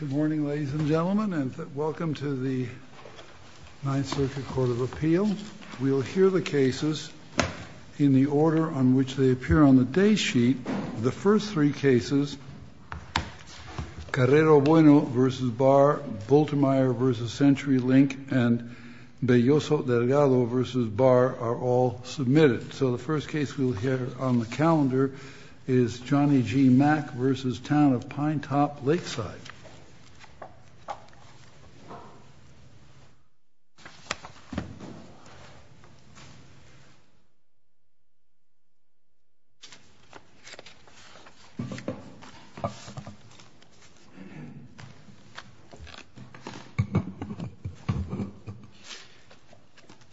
Good morning ladies and gentlemen and welcome to the 9th Circuit Court of Appeal. We will hear the cases in the order on which they appear on the day sheet. The first three cases, Carrero Bueno v. Barr, Voltermeyer v. Century Link, and Belloso Delgado v. Barr are all submitted. So the first case we will hear on the calendar is Johnny G. Mack v. Town of Pinetop Lakeside.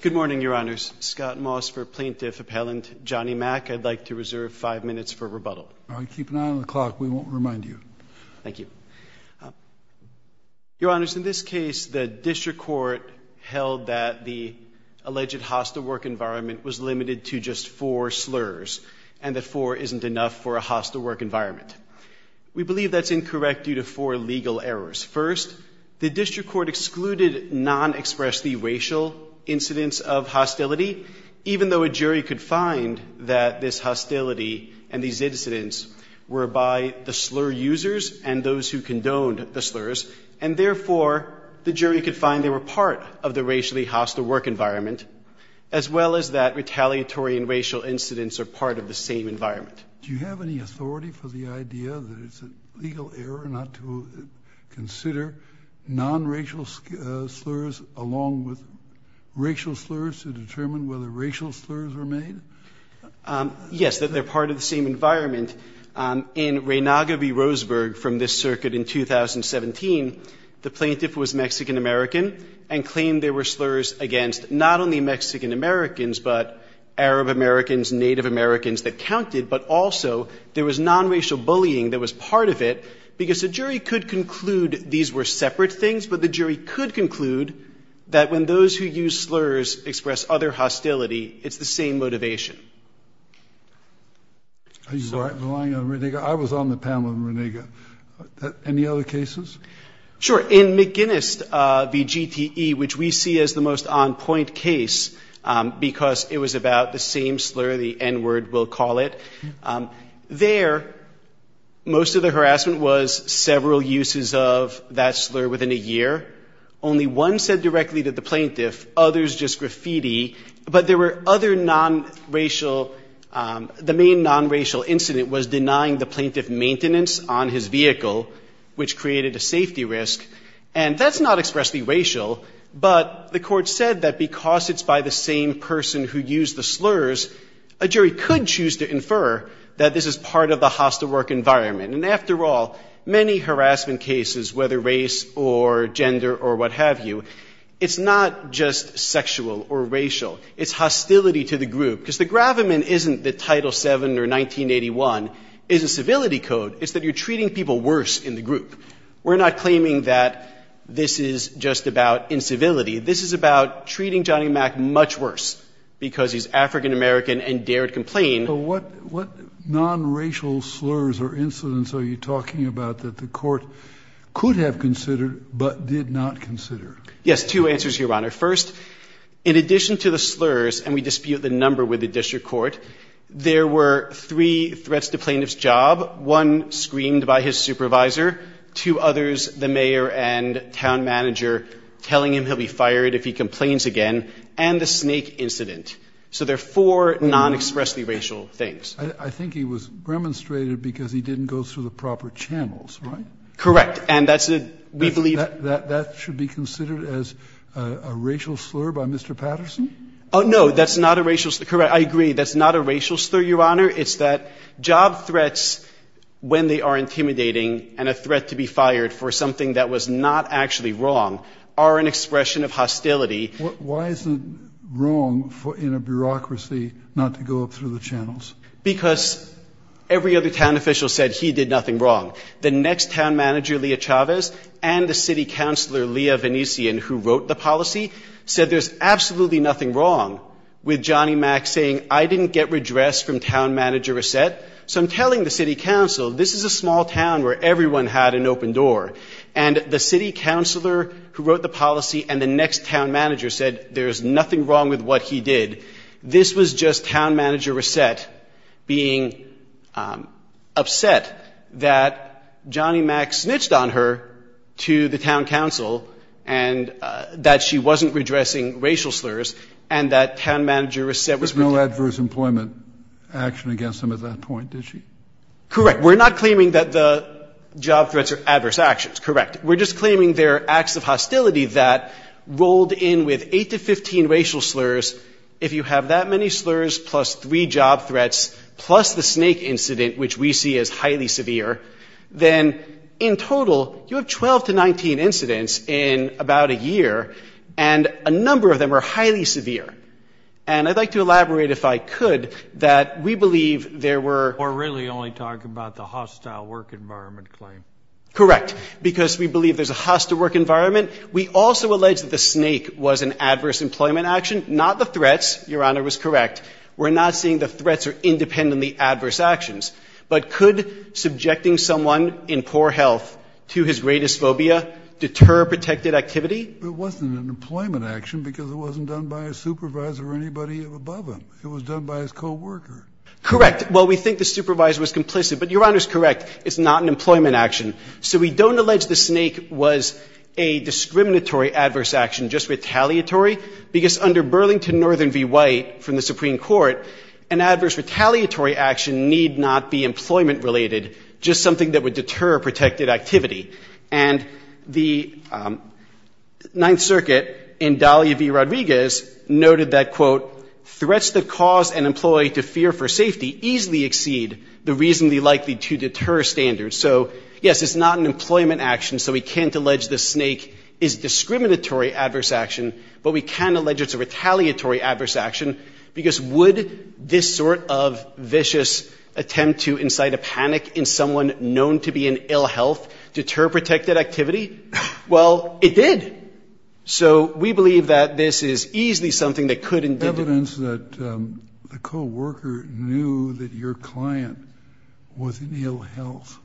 Good morning, Your Honors. Scott Moss for Plaintiff Appellant. Johnny Mack, I'd like to reserve five minutes for rebuttal. Keep an eye on the clock. We won't remind you. Thank you. Your Honors, in this case the district court held that the alleged hostile work environment was limited to just four slurs and that four isn't enough for a hostile work environment. We believe that's incorrect due to four legal errors. First, the district court excluded non-expressly racial incidents of hostility, even though a jury could find that this hostility and these incidents were by the slur users and those who condoned the slurs, and therefore the jury could find they were part of the racially hostile work environment, as well as that retaliatory and racial incidents are part of the same environment. Do you have any authority for the idea that it's a legal error not to consider non-racial slurs along with racial slurs to determine whether racial slurs were made? Yes, that they're part of the same environment. In Reynaga v. Roseburg from this circuit in 2017, the plaintiff was Mexican-American and claimed there were slurs against not only Mexican-Americans but Arab-Americans, Native Americans that counted, but also there was non-racial bullying that was part of it because the jury could conclude these were separate things, but the jury could conclude that when those who use slurs express other hostility, it's the same motivation. Are you relying on Reynaga? I was on the panel with Reynaga. Any other cases? Sure. In McGuinness v. GTE, which we see as the most on-point case because it was about the same slur, the N-word, we'll call it, there, most of the harassment was several uses of that slur within a year. Only one said directly to the plaintiff, others just graffiti, but there were other non-racial, the main non-racial incident was denying the plaintiff maintenance on his vehicle, which created a safety risk. And that's not expressly racial, but the court said that because it's by the same person who used the slurs, a jury could choose to infer that this is part of the hostile work environment. And after all, many harassment cases, whether race or gender or what have you, it's not just sexual or racial. It's hostility to the group. Because the gravamen isn't that Title VII or 1981 is a civility code. It's that you're treating people worse in the group. We're not claiming that this is just about incivility. This is about treating Johnny Mac much worse because he's African American and dared complain. But what non-racial slurs or incidents are you talking about that the court could have considered but did not consider? Yes, two answers, Your Honor. First, in addition to the slurs, and we dispute the number with the district court, there were three threats to plaintiff's job. One, screamed by his supervisor. Two others, the mayor and town manager telling him he'll be fired if he complains again. And the snake incident. So there are four non-expressly racial things. I think he was remonstrated because he didn't go through the proper channels, right? Correct. And that's what we believe. That should be considered as a racial slur by Mr. Patterson? Oh, no. That's not a racial slur. Correct. I agree. That's not a racial slur, Your Honor. It's that job threats, when they are intimidating and a threat to be fired for something that was not actually wrong, are an expression of hostility. Why is it wrong in a bureaucracy not to go up through the channels? Because every other town official said he did nothing wrong. The next town manager, Leah Chavez, and the city councilor, Leah Venetian, who wrote the policy, said there's absolutely nothing wrong with Johnny Mack saying, I didn't get redress from town manager Reset. So I'm telling the city council, this is a small town where everyone had an open door. And the city councilor who wrote the policy and the next town manager said there's nothing wrong with what he did. This was just town manager Reset being upset that Johnny Mack snitched on her to the town council and that she wasn't redressing racial slurs and that town manager Reset was. There was no adverse employment action against him at that point, did she? Correct. We're not claiming that the job threats are adverse actions, correct. We're just claiming they're acts of hostility that rolled in with 8 to 15 racial slurs. If you have that many slurs plus three job threats plus the snake incident, which we see as highly severe, then in total you have 12 to 19 incidents in about a year and a number of them are highly severe. And I'd like to elaborate, if I could, that we believe there were— We're really only talking about the hostile work environment claim. Correct. Because we believe there's a hostile work environment. We also allege that the snake was an adverse employment action, not the threats. Your Honor was correct. We're not saying the threats are independently adverse actions. But could subjecting someone in poor health to his greatest phobia deter protected activity? It wasn't an employment action because it wasn't done by a supervisor or anybody above him. It was done by his co-worker. Correct. Well, we think the supervisor was complicit, but Your Honor is correct. It's not an employment action. So we don't allege the snake was a discriminatory adverse action, just retaliatory, because under Burlington Northern v. White from the Supreme Court, an adverse retaliatory action need not be employment-related, just something that would deter protected activity. Threats that cause an employee to fear for safety easily exceed the reasonably likely to deter standard. So, yes, it's not an employment action, so we can't allege the snake is discriminatory adverse action, but we can allege it's a retaliatory adverse action, because would this sort of vicious attempt to incite a panic in someone known to be in ill health deter protected activity? Well, it did. So we believe that this is easily something that could indicate. Evidence that the co-worker knew that your client was in ill health.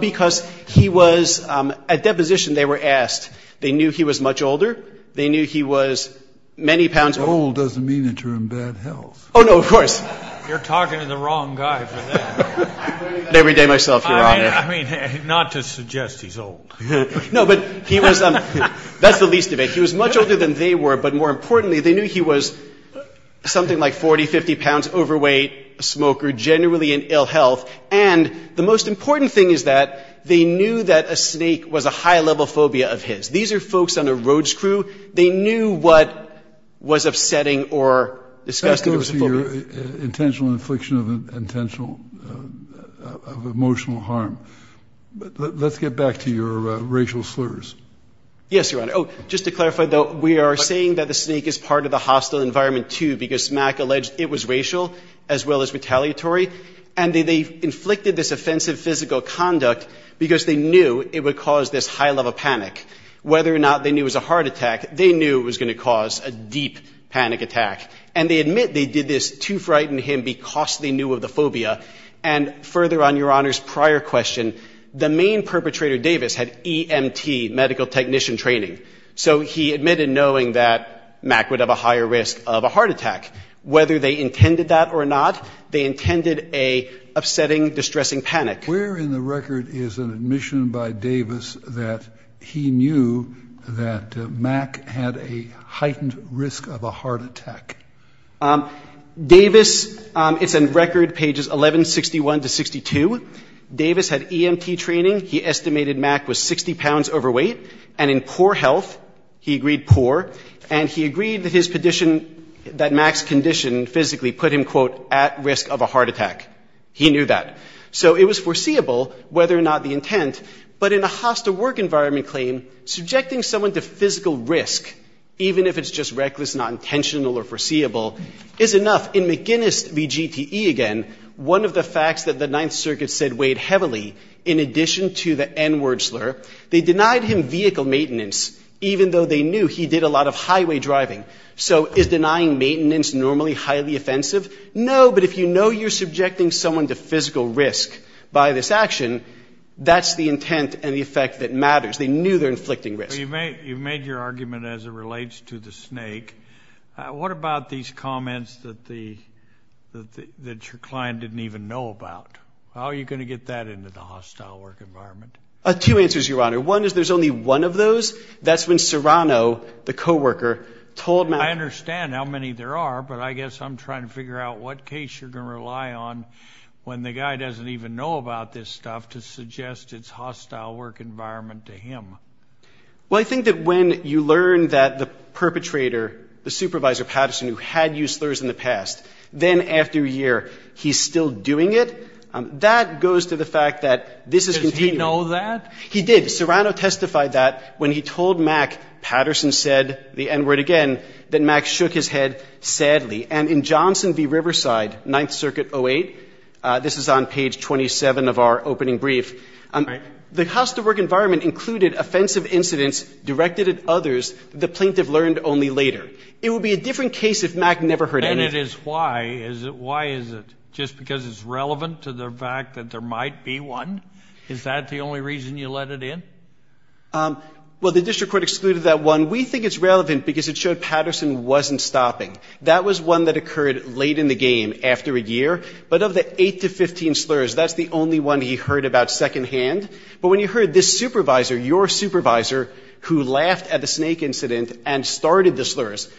Because he was at deposition they were asked. They knew he was much older. They knew he was many pounds older. Old doesn't mean the term bad health. Oh, no, of course. You're talking to the wrong guy for that. Every day myself, Your Honor. I mean, not to suggest he's old. No, but he was. That's the least of it. He was much older than they were, but more importantly, they knew he was something like 40, 50 pounds overweight, a smoker, generally in ill health. And the most important thing is that they knew that a snake was a high-level phobia of his. These are folks on a road crew. They knew what was upsetting or disgusting. That goes to your intentional infliction of intentional emotional harm. Let's get back to your racial slurs. Yes, Your Honor. Oh, just to clarify, though, we are saying that the snake is part of the hostile environment, too, because Mack alleged it was racial as well as retaliatory. And they inflicted this offensive physical conduct because they knew it would cause this high-level panic. Whether or not they knew it was a heart attack, they knew it was going to cause a deep panic attack. And they admit they did this to frighten him because they knew of the phobia. And further on Your Honor's prior question, the main perpetrator, Davis, had EMT, medical technician training. So he admitted knowing that Mack would have a higher risk of a heart attack. Whether they intended that or not, they intended a upsetting, distressing panic. Where in the record is an admission by Davis that he knew that Mack had a heightened risk of a heart attack? Davis, it's in record pages 1161 to 62. Davis had EMT training. He estimated Mack was 60 pounds overweight and in poor health. He agreed poor. And he agreed that his condition, that Mack's condition physically put him, quote, at risk of a heart attack. He knew that. So it was foreseeable whether or not the intent, but in a hostile work environment claim, subjecting someone to physical risk, even if it's just reckless, not intentional or foreseeable, is enough. In McGinnis v. GTE again, one of the facts that the Ninth Circuit said weighed heavily, in addition to the N-word slur, they denied him vehicle maintenance, even though they knew he did a lot of highway driving. So is denying maintenance normally highly offensive? No, but if you know you're subjecting someone to physical risk by this action, that's the intent and the effect that matters. They knew they're inflicting risk. You've made your argument as it relates to the snake. What about these comments that your client didn't even know about? How are you going to get that into the hostile work environment? Two answers, Your Honor. One is there's only one of those. That's when Serrano, the coworker, told Mack. I understand how many there are, but I guess I'm trying to figure out what case you're going to rely on when the guy doesn't even know about this stuff to suggest its hostile work environment to him. Well, I think that when you learn that the perpetrator, the supervisor, Patterson, who had used slurs in the past, then after a year he's still doing it, that goes to the fact that this is continuing. Does he know that? He did. Serrano testified that when he told Mack, Patterson said the N-word again, that Mack shook his head sadly. And in Johnson v. Riverside, Ninth Circuit 08, this is on page 27 of our opening brief, the hostile work environment included offensive incidents directed at others that the plaintiff learned only later. It would be a different case if Mack never heard it. And it is why? Why is it? Just because it's relevant to the fact that there might be one? Is that the only reason you let it in? Well, the district court excluded that one. We think it's relevant because it showed Patterson wasn't stopping. That was one that occurred late in the game after a year. But of the 8 to 15 slurs, that's the only one he heard about secondhand. But when you heard this supervisor, your supervisor, who laughed at the snake incident and started the slurs,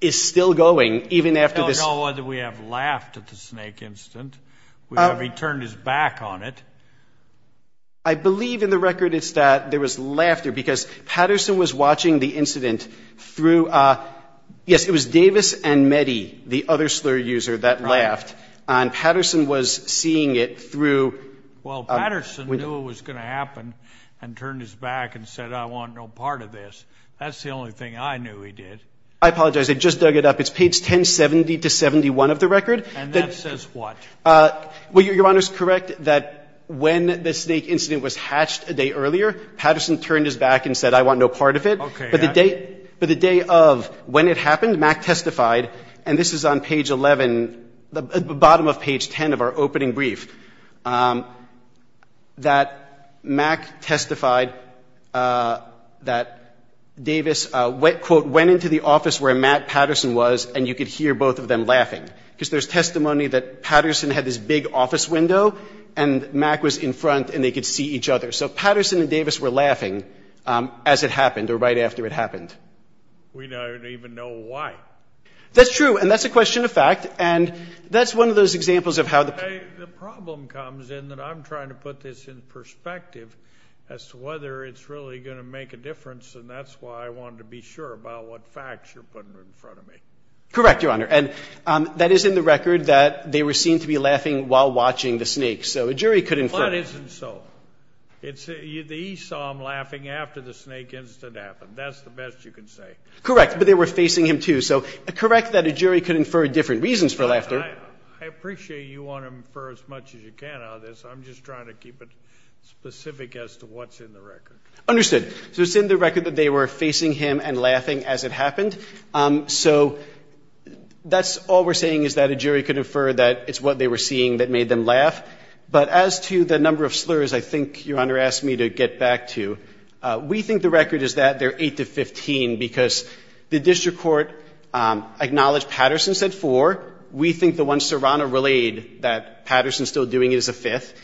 is still going even after this. I don't know whether we have laughed at the snake incident, whether he turned his back on it. I believe in the record it's that there was laughter because Patterson was watching the incident through, yes, it was Davis and Meddy, the other slur user that laughed. Right. And Patterson was seeing it through. Well, Patterson knew it was going to happen and turned his back and said, I want no part of this. That's the only thing I knew he did. I apologize. I just dug it up. It's page 1070 to 71 of the record. And that says what? Well, Your Honor's correct that when the snake incident was hatched a day earlier, Patterson turned his back and said, I want no part of it. Okay. But the day of when it happened, Mack testified, and this is on page 11, the bottom of page 10 of our opening brief, that Mack testified that Davis, quote, went into the office where Matt Patterson was and you could hear both of them laughing. Because there's testimony that Patterson had this big office window and Mack was in front and they could see each other. So Patterson and Davis were laughing as it happened or right after it happened. We don't even know why. That's true. And that's a question of fact. And that's one of those examples of how the ---- The problem comes in that I'm trying to put this in perspective as to whether it's really going to make a difference, and that's why I wanted to be sure about what facts you're putting in front of me. Correct, Your Honor. And that is in the record that they were seen to be laughing while watching the snake. So a jury could infer ---- The plot isn't so. The E saw them laughing after the snake incident happened. That's the best you can say. Correct. But they were facing him, too. So correct that a jury could infer different reasons for laughter. I appreciate you want to infer as much as you can out of this. I'm just trying to keep it specific as to what's in the record. Understood. So it's in the record that they were facing him and laughing as it happened. So that's all we're saying is that a jury could infer that it's what they were seeing that made them laugh. But as to the number of slurs, I think Your Honor asked me to get back to, we think the record is that they're 8 to 15, because the district court acknowledged Patterson said four. We think the one Serrano relayed that Patterson's still doing it is a fifth.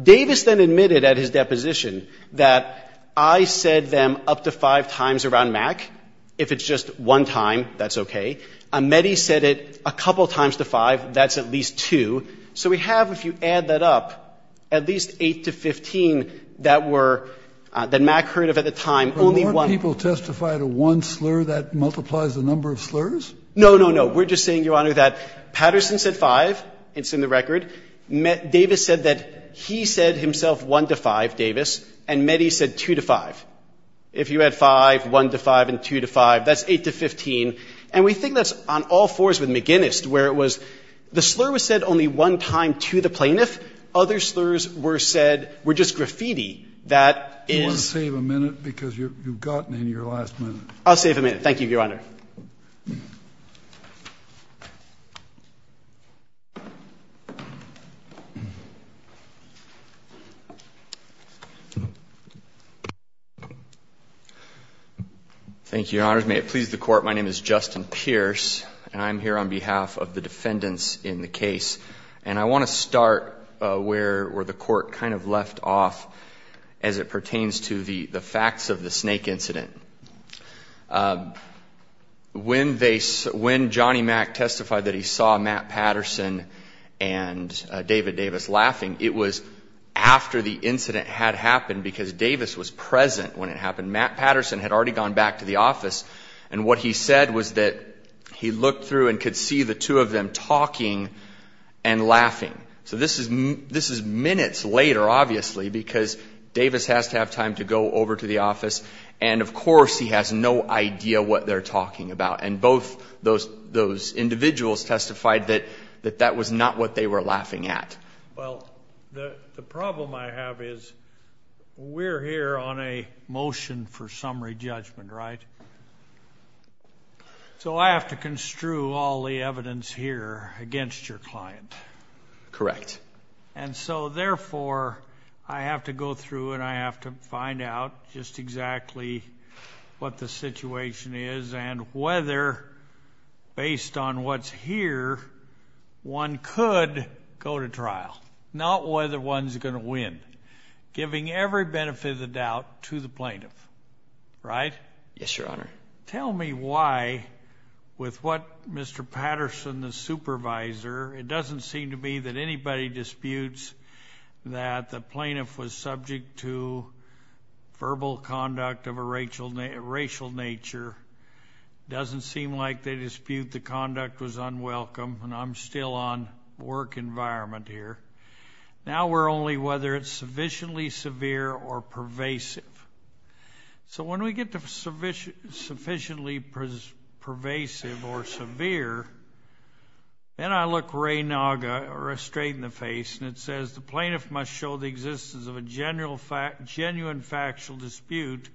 Davis then admitted at his deposition that I said them up to five times around Mack. If it's just one time, that's okay. Amedi said it a couple times to five. That's at least two. So we have, if you add that up, at least 8 to 15 that were, that Mack heard of at the time, only one. But weren't people testifying to one slur that multiplies the number of slurs? No, no, no. We're just saying, Your Honor, that Patterson said five. It's in the record. Davis said that he said himself one to five, Davis, and Amedi said two to five. If you add five, one to five, and two to five, that's 8 to 15. And we think that's on all fours with McGinnis, where it was the slur was said only one time to the plaintiff. Other slurs were said, were just graffiti. That is — You want to save a minute? Because you've gotten into your last minute. I'll save a minute. Thank you, Your Honor. Thank you, Your Honors. May it please the Court, my name is Justin Pierce, and I'm here on behalf of the defendants in the case. And I want to start where the Court kind of left off as it pertains to the facts of the The facts of the snake incident. When Johnny Mac testified that he saw Matt Patterson and David Davis laughing, it was after the incident had happened, because Davis was present when it happened. Matt Patterson had already gone back to the office, and what he said was that he looked through and could see the two of them talking and laughing. So this is minutes later, obviously, because Davis has to have time to go over to the office, and of course he has no idea what they're talking about. And both those individuals testified that that was not what they were laughing at. Well, the problem I have is we're here on a motion for summary judgment, right? So I have to construe all the evidence here against your client. Correct. And so, therefore, I have to go through and I have to find out just exactly what the situation is and whether, based on what's here, one could go to trial. Not whether one's going to win. Giving every benefit of the doubt to the plaintiff. Right? Yes, Your Honor. Tell me why, with what Mr. Patterson, the supervisor, it doesn't seem to me that anybody disputes that the plaintiff was subject to verbal conduct of a racial nature. It doesn't seem like they dispute the conduct was unwelcome, and I'm still on work environment here. Now we're only whether it's sufficiently severe or pervasive. So when we get to sufficiently pervasive or severe, then I look Ray Naga straight in the face and it says, the plaintiff must show the existence of a genuine factual dispute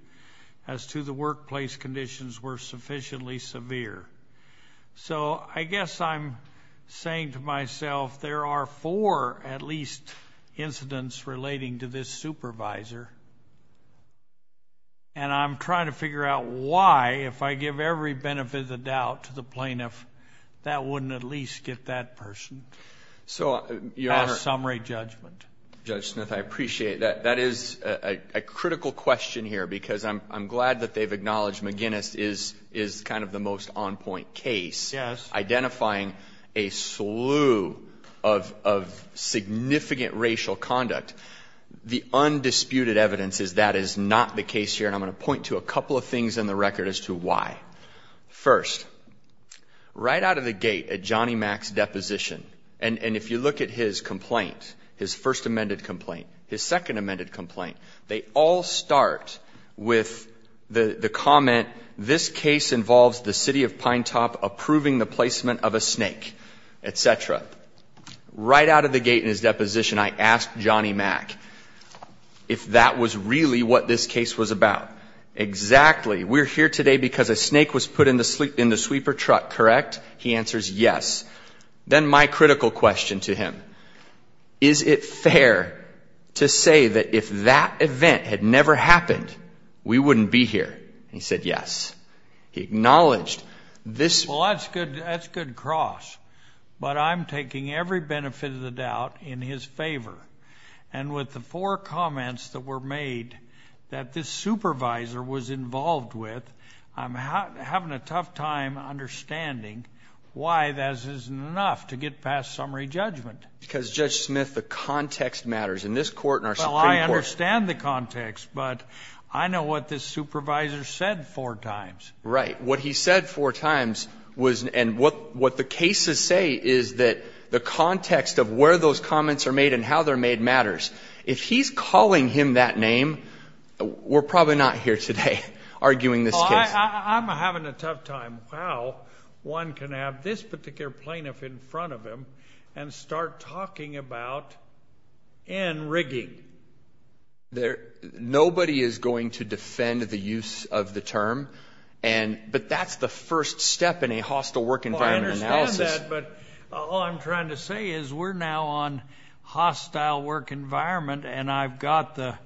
as to the workplace conditions were sufficiently severe. So I guess I'm saying to myself, there are four at least incidents relating to this supervisor, and I'm trying to figure out why, if I give every benefit of the doubt to the plaintiff, that wouldn't at least get that person a summary judgment. Judge Smith, I appreciate that. That is a critical question here because I'm glad that they've acknowledged McGinnis is kind of the most on-point case. Yes. Identifying a slew of significant racial conduct. The undisputed evidence is that is not the case here, and I'm going to point to a couple of things in the record as to why. First, right out of the gate at Johnny Mac's deposition, and if you look at his complaint, his first amended complaint, his second amended complaint, they all start with the comment, this case involves the city of Pinetop approving the placement of a snake, et cetera. Right out of the gate in his deposition, I asked Johnny Mac if that was really what this case was about. Exactly. We're here today because a snake was put in the sweeper truck, correct? He answers yes. Then my critical question to him, is it fair to say that if that event had never happened, we wouldn't be here? He said yes. He acknowledged this. Well, that's good cross, but I'm taking every benefit of the doubt in his favor, and with the four comments that were made that this supervisor was involved with, I'm having a tough time understanding why that isn't enough to get past summary judgment. Because, Judge Smith, the context matters in this court and our Supreme Court. Well, I understand the context, but I know what this supervisor said four times. Right. What he said four times was, and what the cases say is that the context of where those comments are made and how they're made matters. If he's calling him that name, we're probably not here today arguing this case. I'm having a tough time how one can have this particular plaintiff in front of him and start talking about in-rigging. Nobody is going to defend the use of the term, but that's the first step in a hostile work environment analysis. All I'm trying to say is we're now on hostile work environment, and I've got the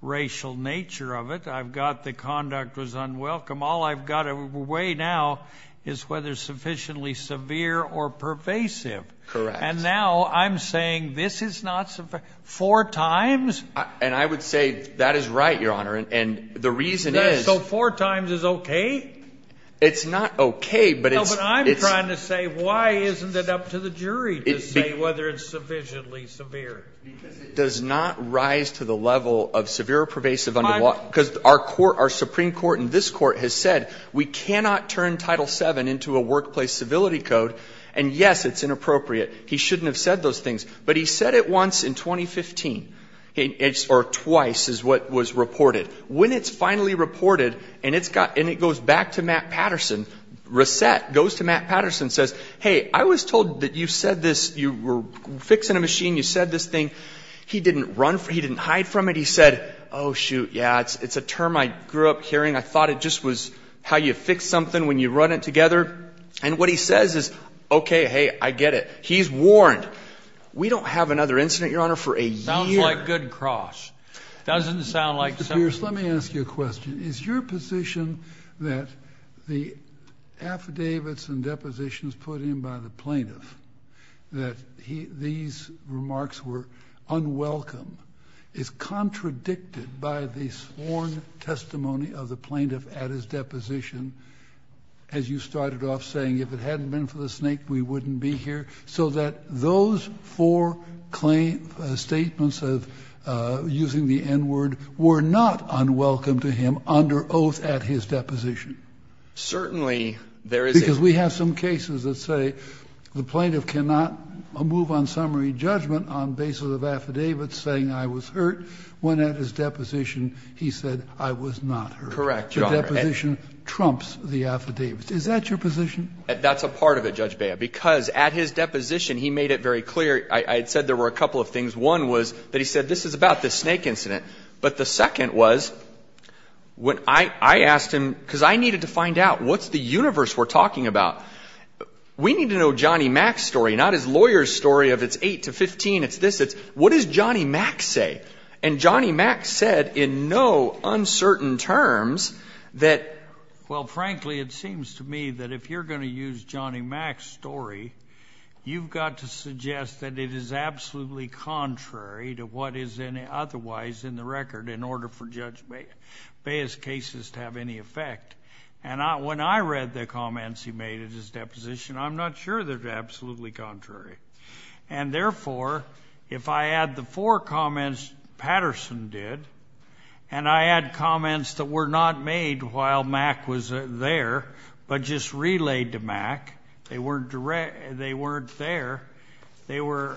racial nature of it. I've got the conduct was unwelcome. All I've got away now is whether it's sufficiently severe or pervasive. Correct. And now I'm saying this is not sufficient. Four times? And I would say that is right, Your Honor, and the reason is. So four times is okay? It's not okay, but it's. No, but I'm trying to say why isn't it up to the jury to say whether it's sufficiently severe? Because it does not rise to the level of severe or pervasive under law. Because our Supreme Court in this court has said we cannot turn Title VII into a workplace civility code, and, yes, it's inappropriate. He shouldn't have said those things, but he said it once in 2015, or twice is what was reported. When it's finally reported and it goes back to Matt Patterson, Reset goes to Matt Patterson and says, hey, I was told that you said this, you were fixing a machine, you said this thing. He didn't run for it. He didn't hide from it. He said, oh, shoot, yeah, it's a term I grew up hearing. I thought it just was how you fix something when you run it together. And what he says is, okay, hey, I get it. He's warned. We don't have another incident, Your Honor, for a year. Sounds like good cross. It doesn't sound like something. Mr. Pierce, let me ask you a question. Is your position that the affidavits and depositions put in by the plaintiff, that these remarks were unwelcome, is contradicted by the sworn testimony of the plaintiff at his deposition, as you started off saying, if it hadn't been for the snake, we wouldn't be here, so that those four statements of using the N-word were not unwelcome to him under oath at his deposition? Certainly there is. Because we have some cases that say the plaintiff cannot move on summary judgment on basis of affidavits saying I was hurt when at his deposition he said I was not hurt. Correct, Your Honor. The deposition trumps the affidavits. Is that your position? That's a part of it, Judge Bea, because at his deposition he made it very clear. I said there were a couple of things. One was that he said this is about the snake incident. But the second was when I asked him, because I needed to find out what's the universe we're talking about. We need to know Johnny Mac's story, not his lawyer's story of it's 8 to 15, it's this, it's what does Johnny Mac say? And Johnny Mac said in no uncertain terms that. Well, frankly, it seems to me that if you're going to use Johnny Mac's story, you've got to suggest that it is absolutely contrary to what is otherwise in the record in order for Judge Bea's cases to have any effect. And when I read the comments he made at his deposition, I'm not sure they're absolutely contrary. And therefore, if I add the four comments Patterson did, and I add comments that were not made while Mac was there, but just relayed to Mac. They weren't there. They were.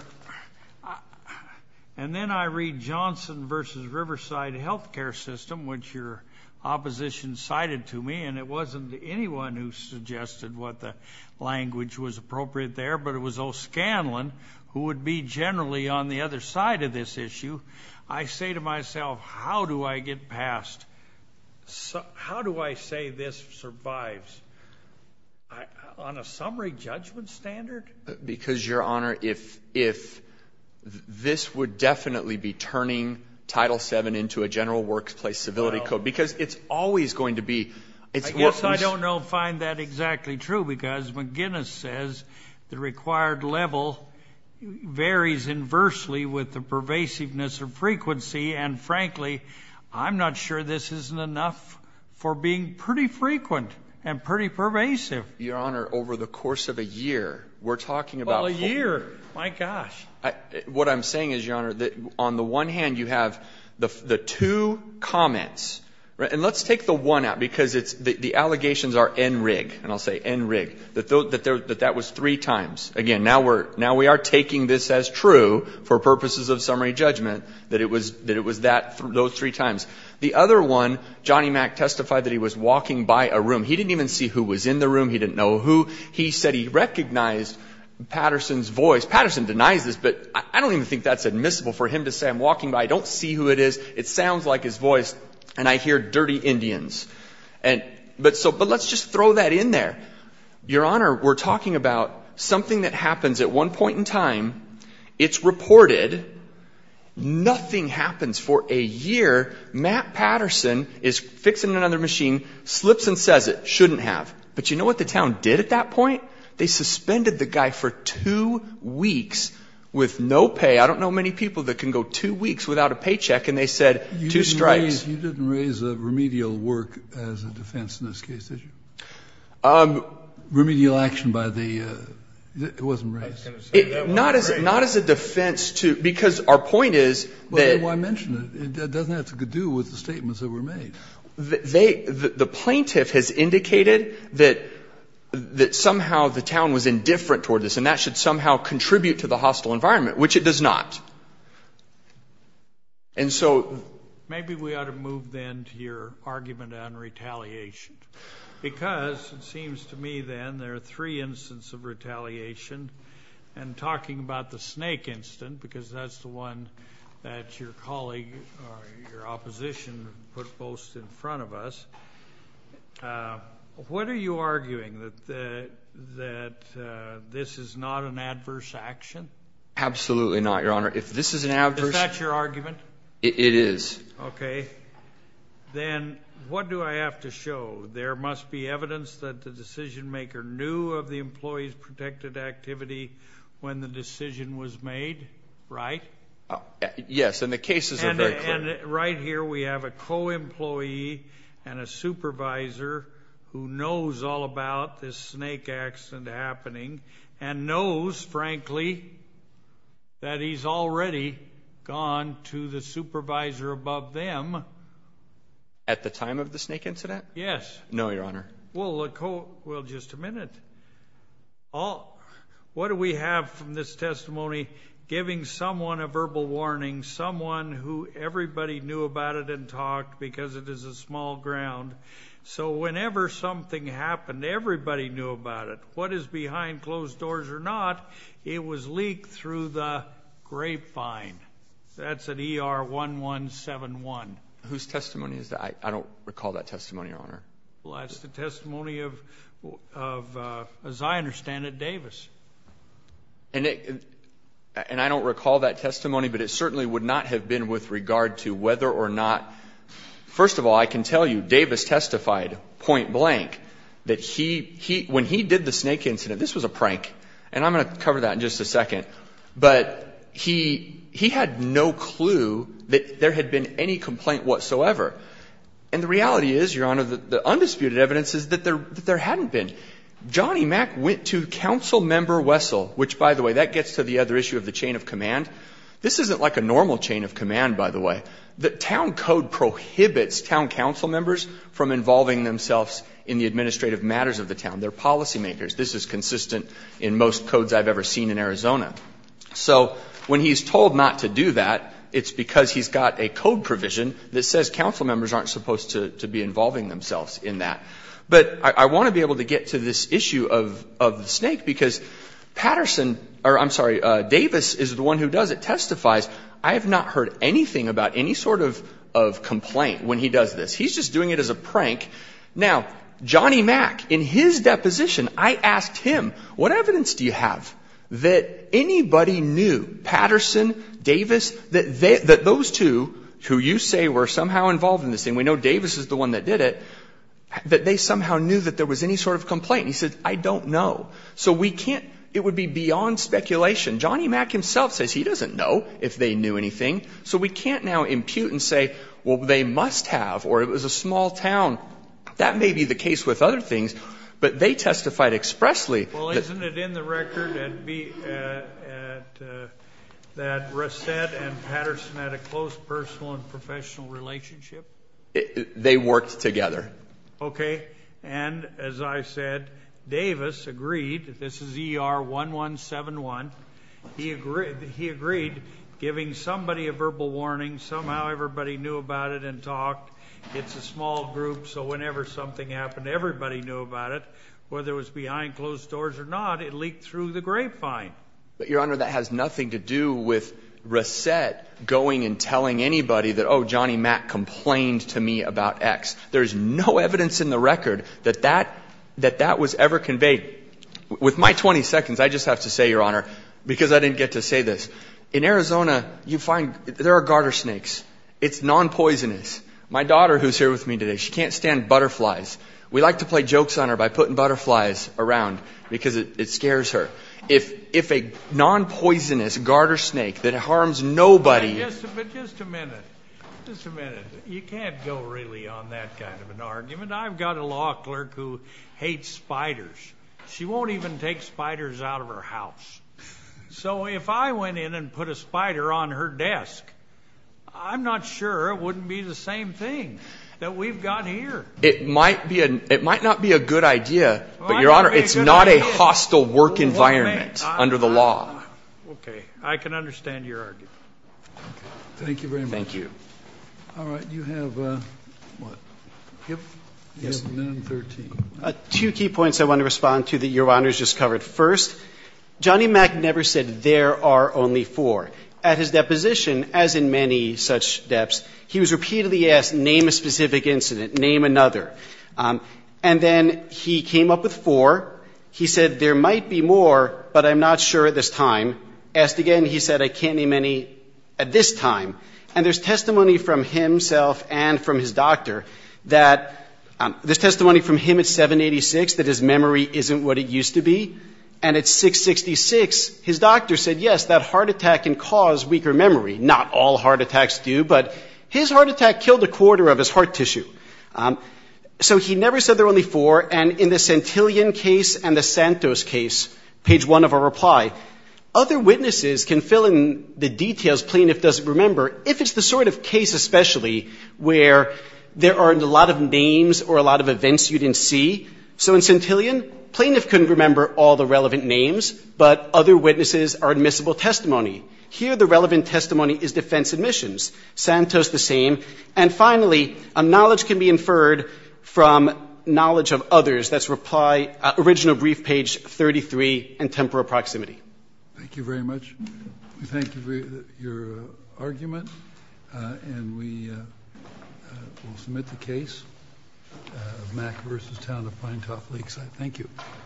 And then I read Johnson v. Riverside Healthcare System, which your opposition cited to me, and it wasn't anyone who suggested what the language was appropriate there, but it was O'Scanlan who would be generally on the other side of this issue. I say to myself, how do I get past, how do I say this survives on a summary judgment standard? Because, Your Honor, if this would definitely be turning Title VII into a general workplace civility code, because it's always going to be. I guess I don't know if I find that exactly true, because McGinnis says the required level varies inversely with the pervasiveness of frequency. And, frankly, I'm not sure this isn't enough for being pretty frequent and pretty pervasive. Your Honor, over the course of a year, we're talking about. Well, a year. My gosh. What I'm saying is, Your Honor, that on the one hand, you have the two comments. And let's take the one out, because the allegations are en rig, and I'll say en rig, that that was three times. Again, now we are taking this as true for purposes of summary judgment, that it was those three times. The other one, Johnny Mack testified that he was walking by a room. He didn't even see who was in the room. He didn't know who. He said he recognized Patterson's voice. Patterson denies this, but I don't even think that's admissible for him to say I'm walking by. I don't see who it is. It sounds like his voice. And I hear dirty Indians. But let's just throw that in there. Your Honor, we're talking about something that happens at one point in time. It's reported. Nothing happens for a year. Matt Patterson is fixing another machine. Slips and says it. Shouldn't have. But you know what the town did at that point? They suspended the guy for two weeks with no pay. I don't know many people that can go two weeks without a paycheck, and they said two strikes. You didn't raise a remedial work as a defense in this case, did you? Remedial action by the — it wasn't raised. Not as a defense to — because our point is that — Then why mention it? It doesn't have to do with the statements that were made. The plaintiff has indicated that somehow the town was indifferent toward this, and that should somehow contribute to the hostile environment, which it does not. And so — Maybe we ought to move, then, to your argument on retaliation. Because it seems to me, then, there are three instances of retaliation. And talking about the snake incident, because that's the one that your colleague or your opposition put most in front of us, what are you arguing, that this is not an adverse action? Absolutely not, Your Honor. If this is an adverse — Is that your argument? It is. Okay. Then what do I have to show? There must be evidence that the decision-maker knew of the employee's protected activity when the decision was made, right? Yes, and the cases are very clear. And right here we have a co-employee and a supervisor who knows all about this snake accident happening and knows, frankly, that he's already gone to the supervisor above them. At the time of the snake incident? Yes. No, Your Honor. Well, just a minute. What do we have from this testimony giving someone a verbal warning, someone who everybody knew about it and talked because it is a small ground. So whenever something happened, everybody knew about it. What is behind closed doors or not, it was leaked through the grapevine. That's at ER 1171. Whose testimony is that? I don't recall that testimony, Your Honor. Well, that's the testimony of, as I understand it, Davis. And I don't recall that testimony, but it certainly would not have been with regard to whether or not — first of all, I can tell you Davis testified point blank that when he did the snake incident, this was a prank. And I'm going to cover that in just a second. But he had no clue that there had been any complaint whatsoever. And the reality is, Your Honor, the undisputed evidence is that there hadn't been. Johnny Mack went to Councilmember Wessel, which, by the way, that gets to the other issue of the chain of command. This isn't like a normal chain of command, by the way. The town code prohibits town councilmembers from involving themselves in the administrative matters of the town. They're policymakers. This is consistent in most codes I've ever seen in Arizona. So when he's told not to do that, it's because he's got a code provision that says councilmembers aren't supposed to be involving themselves in that. But I want to be able to get to this issue of the snake because Patterson — or, I'm sorry, Davis is the one who does it, testifies. I have not heard anything about any sort of complaint when he does this. He's just doing it as a prank. Now, Johnny Mack, in his deposition, I asked him, what evidence do you have that anybody knew, Patterson, Davis, that those two, who you say were somehow involved in this thing — we know Davis is the one that did it — that they somehow knew that there was any sort of complaint? He said, I don't know. So we can't — it would be beyond speculation. Johnny Mack himself says he doesn't know if they knew anything. So we can't now impute and say, well, they must have, or it was a small town. That may be the case with other things. But they testified expressly. Well, isn't it in the record that Reset and Patterson had a close personal and professional relationship? They worked together. Okay. And, as I said, Davis agreed — this is E.R. 1171 — he agreed giving somebody a verbal warning. Somehow everybody knew about it and talked. It's a small group, so whenever something happened, everybody knew about it. Whether it was behind closed doors or not, it leaked through the grapevine. But, Your Honor, that has nothing to do with Reset going and telling anybody that, oh, Johnny Mack complained to me about X. There is no evidence in the record that that was ever conveyed. With my 20 seconds, I just have to say, Your Honor, because I didn't get to say this. In Arizona, you find — there are garter snakes. It's nonpoisonous. My daughter, who is here with me today, she can't stand butterflies. We like to play jokes on her by putting butterflies around because it scares her. If a nonpoisonous garter snake that harms nobody — But just a minute. Just a minute. You can't go really on that kind of an argument. I've got a law clerk who hates spiders. She won't even take spiders out of her house. So if I went in and put a spider on her desk, I'm not sure it wouldn't be the same thing that we've got here. It might not be a good idea, but, Your Honor, it's not a hostile work environment under the law. Okay. I can understand your argument. Thank you very much. Thank you. All right. You have what? You have 913. Two key points I want to respond to that Your Honor has just covered. First, Johnny Mack never said there are only four. At his deposition, as in many such depths, he was repeatedly asked, name a specific incident, name another. And then he came up with four. He said, there might be more, but I'm not sure at this time. Asked again, he said, I can't name any at this time. And there's testimony from himself and from his doctor that — there's testimony from him at 786 that his memory isn't what it used to be. And at 666, his doctor said, yes, that heart attack can cause weaker memory. Not all heart attacks do, but his heart attack killed a quarter of his heart tissue. So he never said there are only four. And in the Santillan case and the Santos case, page one of our reply, other witnesses can fill in the details plaintiff doesn't remember, if it's the sort of case especially where there aren't a lot of names or a lot of events you didn't see. So in Santillan, plaintiff couldn't remember all the relevant names, but other witnesses are admissible testimony. Here, the relevant testimony is defense admissions. Santos, the same. And finally, knowledge can be inferred from knowledge of others. That's reply — original brief, page 33, and temporal proximity. Thank you very much. We thank you for your argument. And we will submit the case, Mack v. Town of Pinetop Lakeside. Thank you.